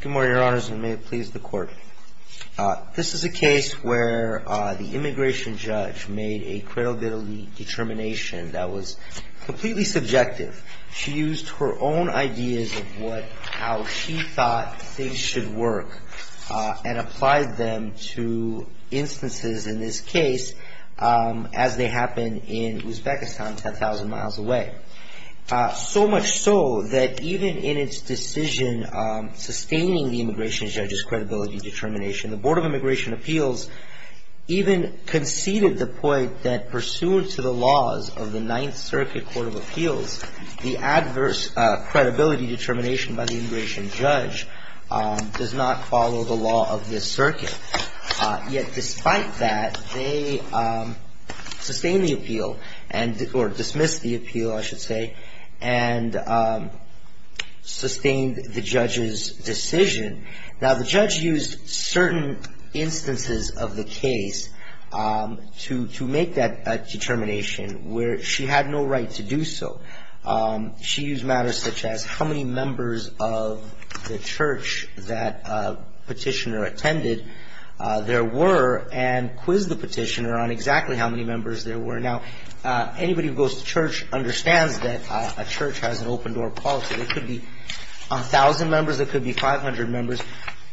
Good morning, Your Honors, and may it please the Court. This is a case where the immigration judge made a credibility determination that was completely subjective. She used her own ideas of how she thought things should work and applied them to instances in this case as they happened in Uzbekistan, 10,000 miles away. So much so that even in its decision sustaining the immigration judge's credibility determination, the Board of Immigration Appeals even conceded the point that pursuant to the laws of the Ninth Circuit Court of Appeals, the adverse credibility determination by the immigration judge does not follow the law of this circuit. Yet despite that, they sustained the appeal, or dismissed the appeal, I should say, and sustained the judge's decision. Now, the judge used certain instances of the case to make that determination where she had no right to do so. She used matters such as how many members of the church that petitioner attended there were and quizzed the petitioner on exactly how many members there were. Now, anybody who goes to church understands that a church has an open-door policy. There could be 1,000 members. There could be 500 members.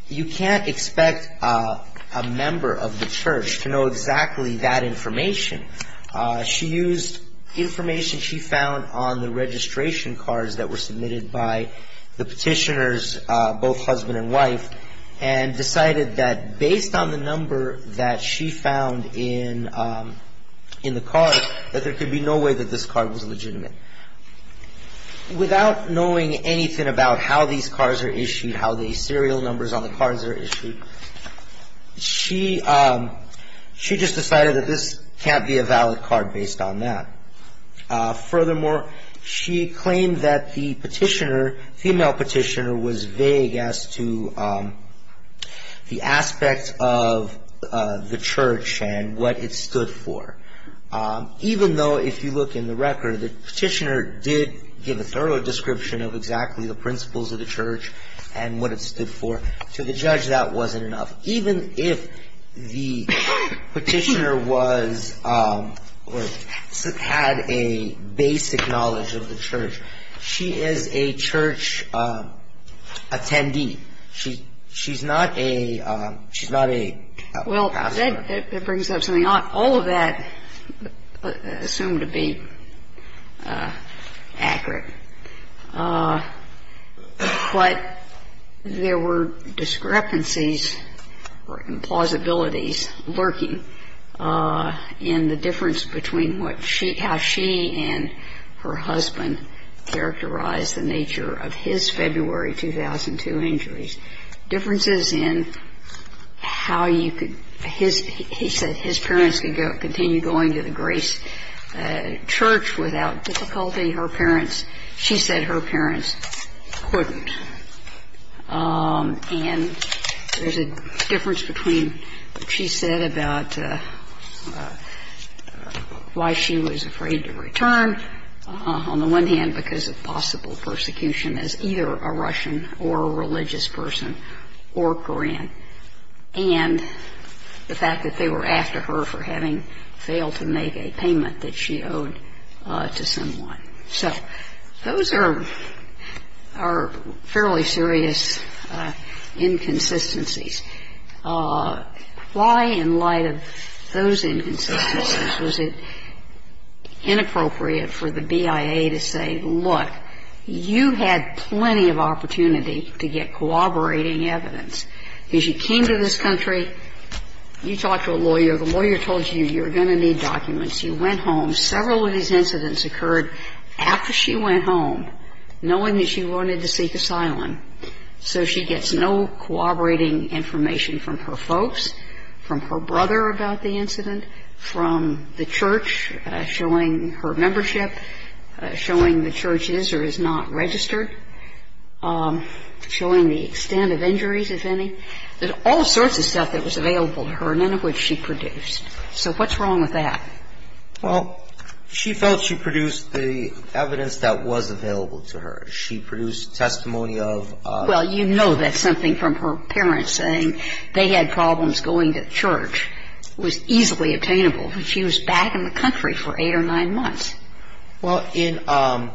You can't expect a member of the church to know exactly that information. She used information she found on the registration cards that were submitted by the petitioner's both husband and wife and decided that based on the number that she found in the cards, that there could be no way that this card was legitimate. Without knowing anything about how these cards are issued, how the serial numbers on the cards are issued, she just decided that this can't be a valid card based on that. Furthermore, she claimed that the petitioner, female petitioner, was vague as to the aspect of the church and what it stood for. Even though if you look in the record, the petitioner did give a thorough description of exactly the principles of the church and what it stood for. To the judge, that wasn't enough. Even if the petitioner was or had a basic knowledge of the church, she is a church attendee. She's not a pastor. Now, that brings up something. All of that assumed to be accurate. But there were discrepancies or implausibilities lurking in the difference between what she, how she and her husband characterized the nature of his February 2002 injuries, differences in how you could, his, he said his parents could go, continue going to the Grace Church without difficulty. Her parents, she said her parents couldn't. And there's a difference between what she said about why she was afraid to return, on the one hand, because of possible persecution as either a Russian or a religious person or Korean, and the fact that they were after her for having failed to make a payment that she owed to someone. So those are, are fairly serious inconsistencies. Why, in light of those inconsistencies, was it inappropriate for the BIA to say, look, you had plenty of opportunity to get cooperating evidence? Because you came to this country, you talked to a lawyer, the lawyer told you you're going to need documents. You went home. Several of these incidents occurred after she went home, knowing that she wanted to seek asylum. So she gets no cooperating information from her folks, from her brother about the incident, from the church showing her membership, showing the church is or is not registered, showing the extent of injuries, if any. There's all sorts of stuff that was available to her, none of which she produced. So what's wrong with that? Well, she felt she produced the evidence that was available to her. She produced testimony of a ---- Well, you know that's something from her parents, saying they had problems going to church. It was easily obtainable. But she was back in the country for eight or nine months. Well, in ----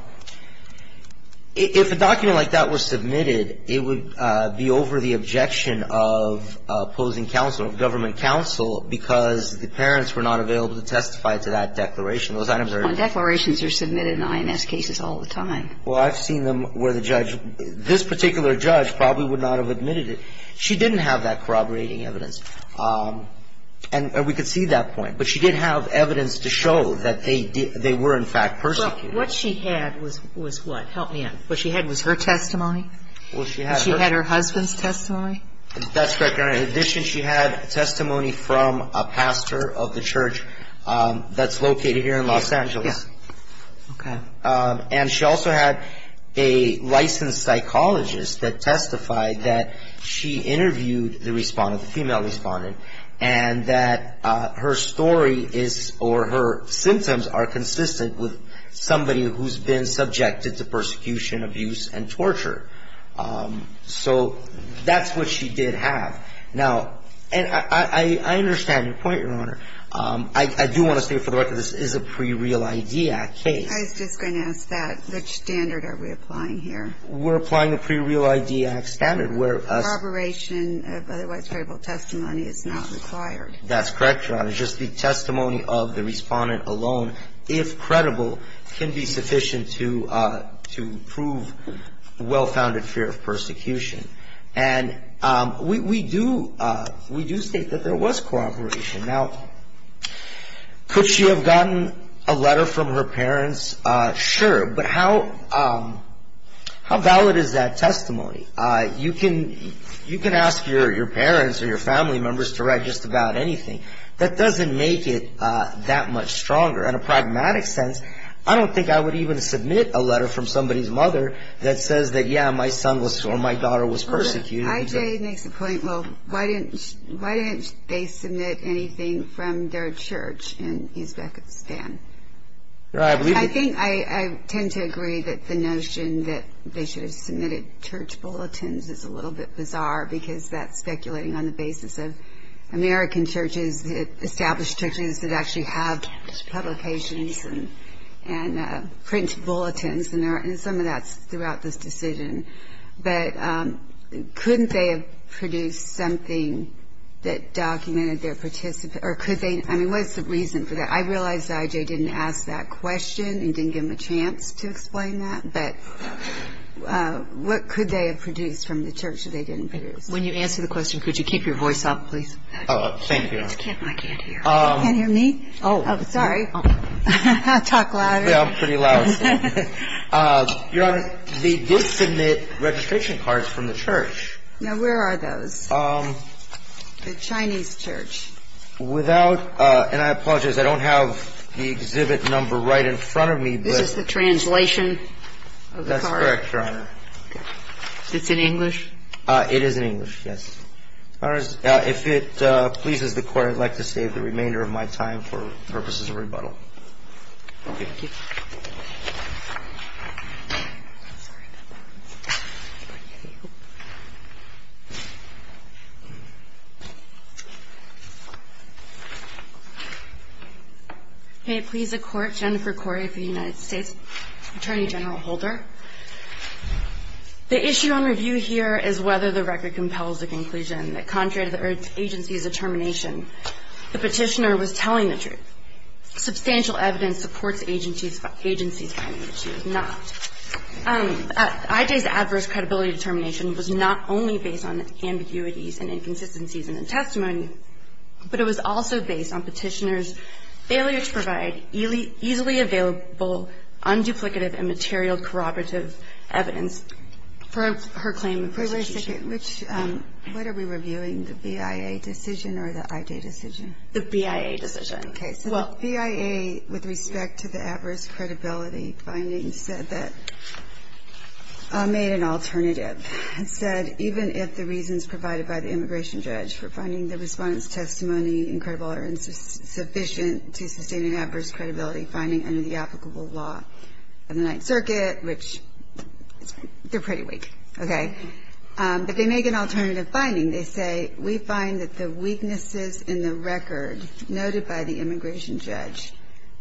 if a document like that were submitted, it would be over the objection of opposing counsel, government counsel, because the parents were not available to testify to that declaration. Those items are ---- Well, declarations are submitted in IMS cases all the time. Well, I've seen them where the judge ---- this particular judge probably would not have admitted it. She didn't have that corroborating evidence. And we could see that point. But she did have evidence to show that they were in fact persecuted. Well, what she had was what? Help me out. What she had was her testimony? Well, she had her ---- And she had her husband's testimony? That's correct, Your Honor. In addition, she had testimony from a pastor of the church that's located here in Los Angeles. Yes. Okay. And she also had a licensed psychologist that testified that she interviewed the respondent, the female respondent, and that her story is or her symptoms are consistent with somebody who's been subjected to persecution, abuse, and torture. So that's what she did have. Now, and I understand your point, Your Honor. I do want to say for the record this is a pre-real ID act case. I was just going to ask that. Which standard are we applying here? We're applying a pre-real ID act standard where ---- Corroboration of otherwise credible testimony is not required. That's correct, Your Honor. Just the testimony of the respondent alone, if credible, can be sufficient to prove well-founded fear of persecution. And we do state that there was corroboration. Now, could she have gotten a letter from her parents? Sure. But how valid is that testimony? You can ask your parents or your family members to write just about anything. That doesn't make it that much stronger. In a pragmatic sense, I don't think I would even submit a letter from somebody's mother that says that, yeah, my son was or my daughter was persecuted. I.J. makes the point, well, why didn't they submit anything from their church in Uzbekistan? I think I tend to agree that the notion that they should have submitted church bulletins is a little bit bizarre because that's speculating on the basis of American churches, established churches that actually have publications and print bulletins and some of that's throughout this decision. But couldn't they have produced something that documented their participation or could they? I mean, what's the reason for that? I realize that I.J. didn't ask that question and didn't give him a chance to explain that, but what could they have produced from the church that they didn't produce? When you answer the question, could you keep your voice up, please? Thank you, Your Honor. I can't hear. You can't hear me? Oh, sorry. Talk louder. Yeah, I'm pretty loud. Your Honor, they did submit registration cards from the church. Now, where are those? The Chinese church. Without – and I apologize, I don't have the exhibit number right in front of me. This is the translation of the card? That's correct, Your Honor. It's in English? It is in English, yes. If it pleases the Court, I'd like to save the remainder of my time for purposes of rebuttal. Thank you. I'm sorry about that. Thank you. May it please the Court, Jennifer Corey of the United States, Attorney General Holder. The issue on review here is whether the record compels the conclusion that contrary to the agency's determination, the petitioner was telling the truth. Substantial evidence supports agency's finding that she was not. IJ's adverse credibility determination was not only based on ambiguities and inconsistencies in the testimony, but it was also based on petitioner's failure to provide easily available unduplicative and material corroborative evidence for her claim of persecution. Wait a second. What are we reviewing, the BIA decision or the IJ decision? The BIA decision. Okay. So the BIA, with respect to the adverse credibility finding, said that or made an alternative and said even if the reasons provided by the immigration judge for finding the Respondent's testimony incredible or insufficient to sustain an adverse credibility finding under the applicable law of the Ninth Circuit, which they're pretty weak, okay, but they make an alternative finding. They say we find that the weaknesses in the record noted by the immigration judge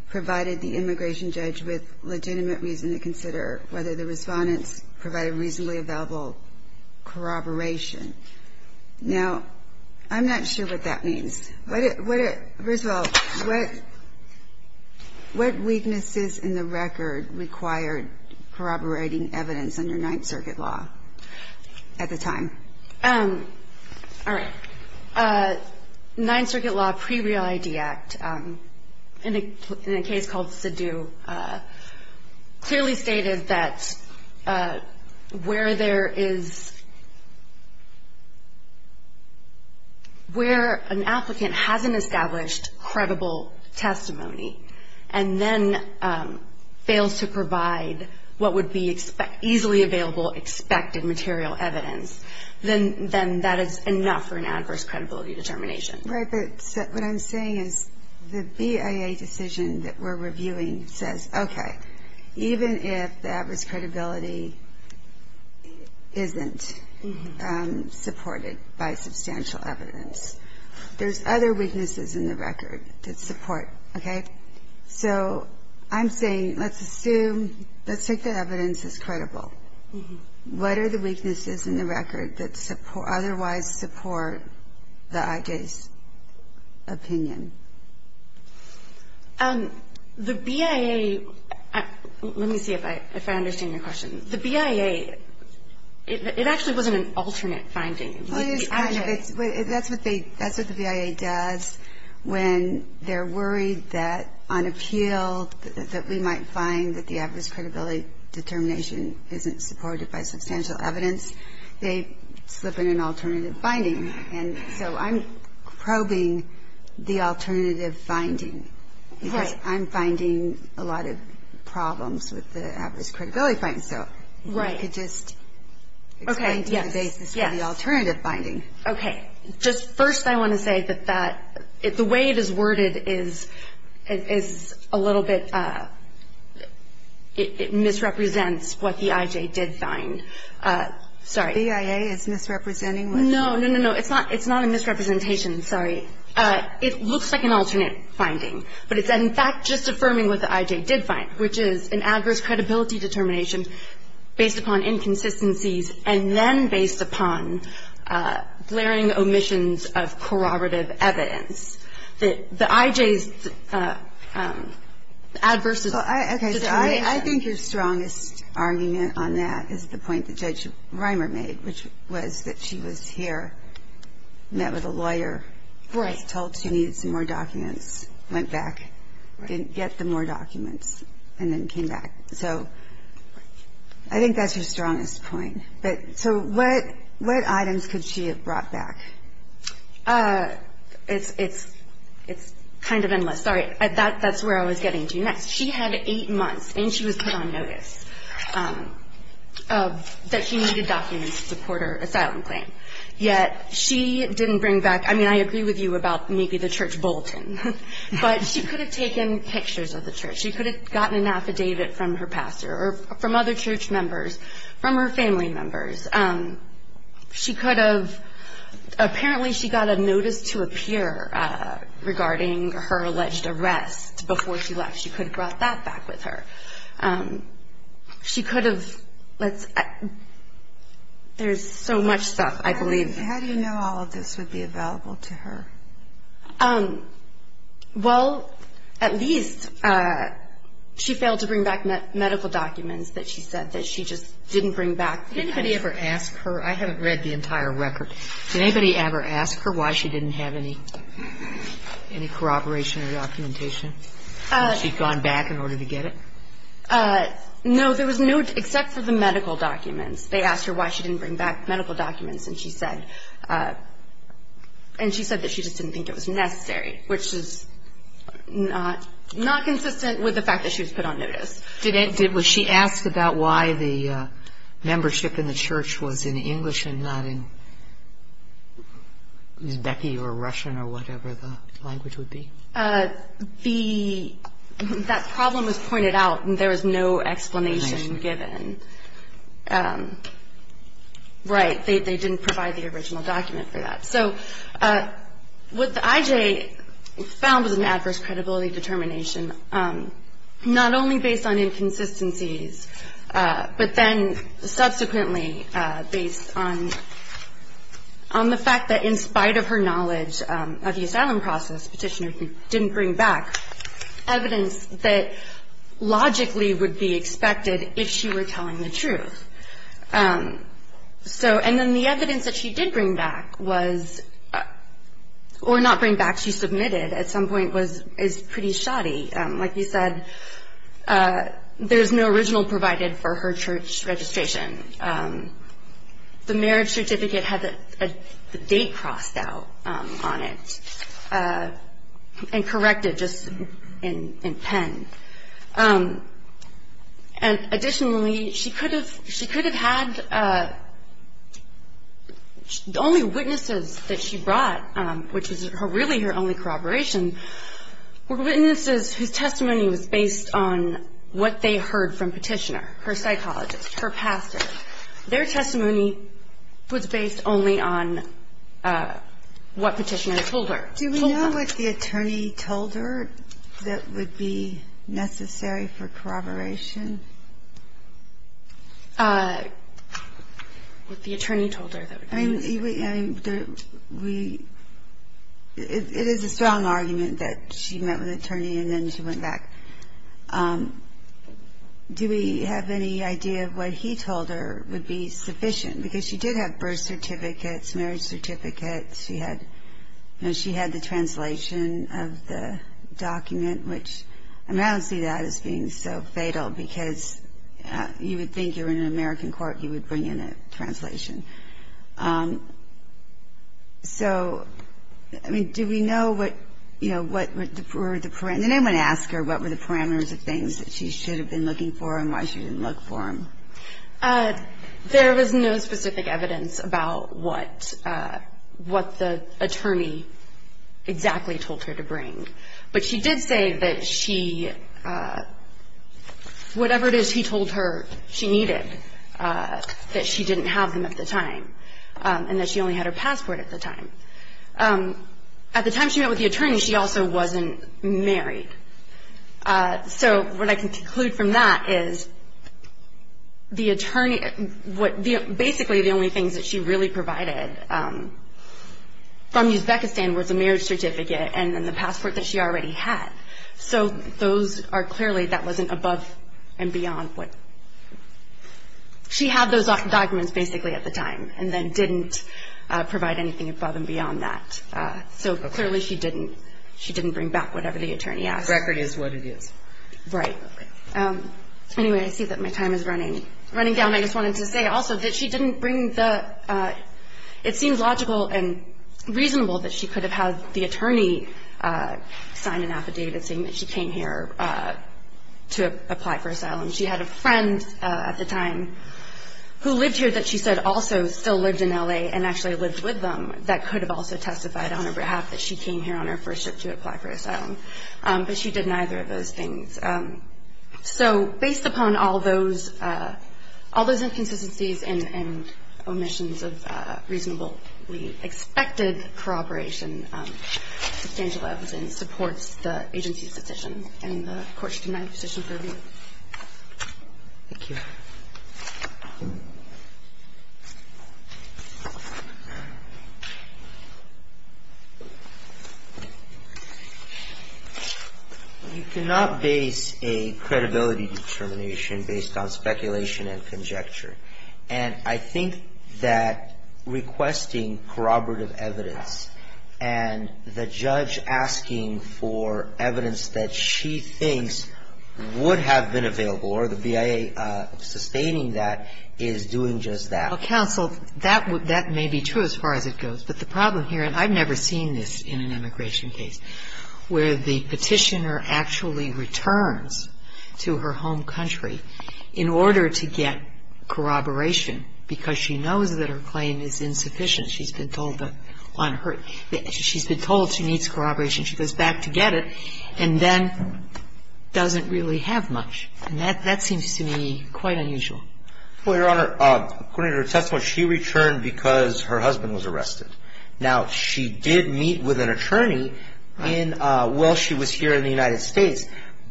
provided the immigration judge with legitimate reason to consider whether the Respondent's provided reasonably available corroboration. Now, I'm not sure what that means. First of all, what weaknesses in the record required corroborating evidence under Ninth Circuit law at the time? All right. Ninth Circuit law pre-Real ID Act, in a case called Sidhu, clearly stated that where an applicant hasn't established credible testimony and then fails to provide what would be easily available expected material evidence, then that is enough for an adverse credibility determination. Right. But what I'm saying is the BIA decision that we're reviewing says, okay, even if the adverse credibility isn't supported by substantial evidence, there's other weaknesses in the record that support, okay? So I'm saying let's assume, let's take the evidence as credible. What are the weaknesses in the record that otherwise support the IJ's opinion? The BIA, let me see if I understand your question. The BIA, it actually wasn't an alternate finding. Well, it is kind of. That's what the BIA does when they're worried that on appeal, that we might find that the adverse credibility determination isn't supported by substantial evidence, they slip in an alternative finding. And so I'm probing the alternative finding. Right. Because I'm finding a lot of problems with the adverse credibility finding. Right. So if you could just explain to me the basis for the alternative finding. Okay. Just first I want to say that the way it is worded is a little bit, it misrepresents what the IJ did find. Sorry. The BIA is misrepresenting? No, no, no, no. It's not a misrepresentation. Sorry. It looks like an alternate finding. But it's, in fact, just affirming what the IJ did find, which is an adverse credibility determination based upon inconsistencies and then based upon glaring omissions of corroborative evidence. The IJ's adverse determination. Okay. So I think your strongest argument on that is the point that Judge Reimer made, which was that she was here, met with a lawyer. Right. Was told she needed some more documents, went back, didn't get the more documents, and then came back. So I think that's her strongest point. So what items could she have brought back? It's kind of endless. Sorry. That's where I was getting to. Next. She had eight months, and she was put on notice that she needed documents to support her asylum claim. Yet she didn't bring back, I mean, I agree with you about maybe the church bulletin, but she could have taken pictures of the church. She could have gotten an affidavit from her pastor or from other church members, from her family members. She could have. Apparently she got a notice to appear regarding her alleged arrest before she left. She could have brought that back with her. She could have. There's so much stuff, I believe. How do you know all of this would be available to her? Well, at least she failed to bring back medical documents that she said that she just didn't bring back. Did anybody ever ask her? I haven't read the entire record. Did anybody ever ask her why she didn't have any corroboration or documentation when she'd gone back in order to get it? No. There was no, except for the medical documents. They asked her why she didn't bring back medical documents, and she said that she just didn't think it was necessary, which is not consistent with the fact that she was put on notice. Was she asked about why the membership in the church was in English and not in Uzbek or Russian or whatever the language would be? That problem was pointed out, and there was no explanation given. Right. They didn't provide the original document for that. So what I.J. found was an adverse credibility determination, not only based on inconsistencies, but then subsequently based on the fact that in spite of her knowledge of the asylum process, the petitioner didn't bring back evidence that logically would be expected if she were telling the truth. And then the evidence that she did bring back was, or not bring back, she submitted at some point, is pretty shoddy. Like you said, there's no original provided for her church registration. The marriage certificate had the date crossed out on it and corrected just in pen. And additionally, she could have had only witnesses that she brought, which was really her only corroboration, were witnesses whose testimony was based on what they heard from petitioner, her psychologist, her pastor. Their testimony was based only on what petitioner told her. Do we know what the attorney told her that would be necessary for corroboration? I mean, it is a strong argument that she met with an attorney and then she went back. Do we have any idea of what he told her would be sufficient? Because she did have birth certificates, marriage certificates. She had the translation of the document, which I don't see that as being so fatal, because you would think you're in an American court, you would bring in a translation. So, I mean, do we know what, you know, what were the parameters? Did anyone ask her what were the parameters of things that she should have been looking for and why she didn't look for them? There was no specific evidence about what the attorney exactly told her to bring. But she did say that she, whatever it is he told her she needed, that she didn't have them at the time, and that she only had her passport at the time. At the time she met with the attorney, she also wasn't married. So what I can conclude from that is the attorney, basically the only things that she really provided from Uzbekistan was a marriage certificate and then the passport that she already had. So those are clearly, that wasn't above and beyond what, she had those documents basically at the time and then didn't provide anything above and beyond that. So clearly she didn't, she didn't bring back whatever the attorney asked. The record is what it is. Right. Anyway, I see that my time is running down. I just wanted to say also that she didn't bring the, it seems logical and reasonable that she could have had the attorney sign an affidavit saying that she came here to apply for asylum. She had a friend at the time who lived here that she said also still lived in L.A. and actually lived with them that could have also testified on her behalf that she came here on her first trip to apply for asylum. But she did neither of those things. So based upon all those, all those inconsistencies and omissions of reasonable, we expected corroboration, substantial evidence supports the agency's decision and the Court's denied position for review. Thank you. You cannot base a credibility determination based on speculation and conjecture. And I think that requesting corroborative evidence and the judge asking for evidence that she thinks would have been available is a very good way of doing it. And I think that the way in which the Court is sustaining that is doing just that. Counsel, that may be true as far as it goes. But the problem here, and I've never seen this in an immigration case, where the petitioner actually returns to her home country in order to get corroboration because she knows that her claim is insufficient. She's been told that on her – she's been told she needs corroboration. She goes back to get it and then doesn't really have much. And that seems to me quite unusual. Well, Your Honor, according to her testimony, she returned because her husband was arrested. Now, she did meet with an attorney while she was here in the United States,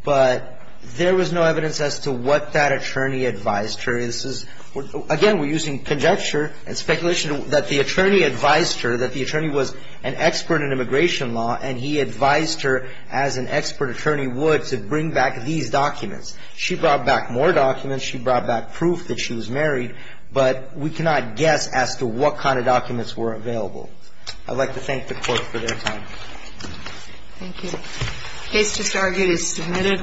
but there was no evidence as to what that attorney advised her. Again, we're using conjecture and speculation that the attorney advised her, that the attorney was an expert in immigration law, and he advised her as an expert attorney would to bring back these documents. She brought back more documents. She brought back proof that she was married. But we cannot guess as to what kind of documents were available. I'd like to thank the Court for their time. Thank you. The case just argued is submitted.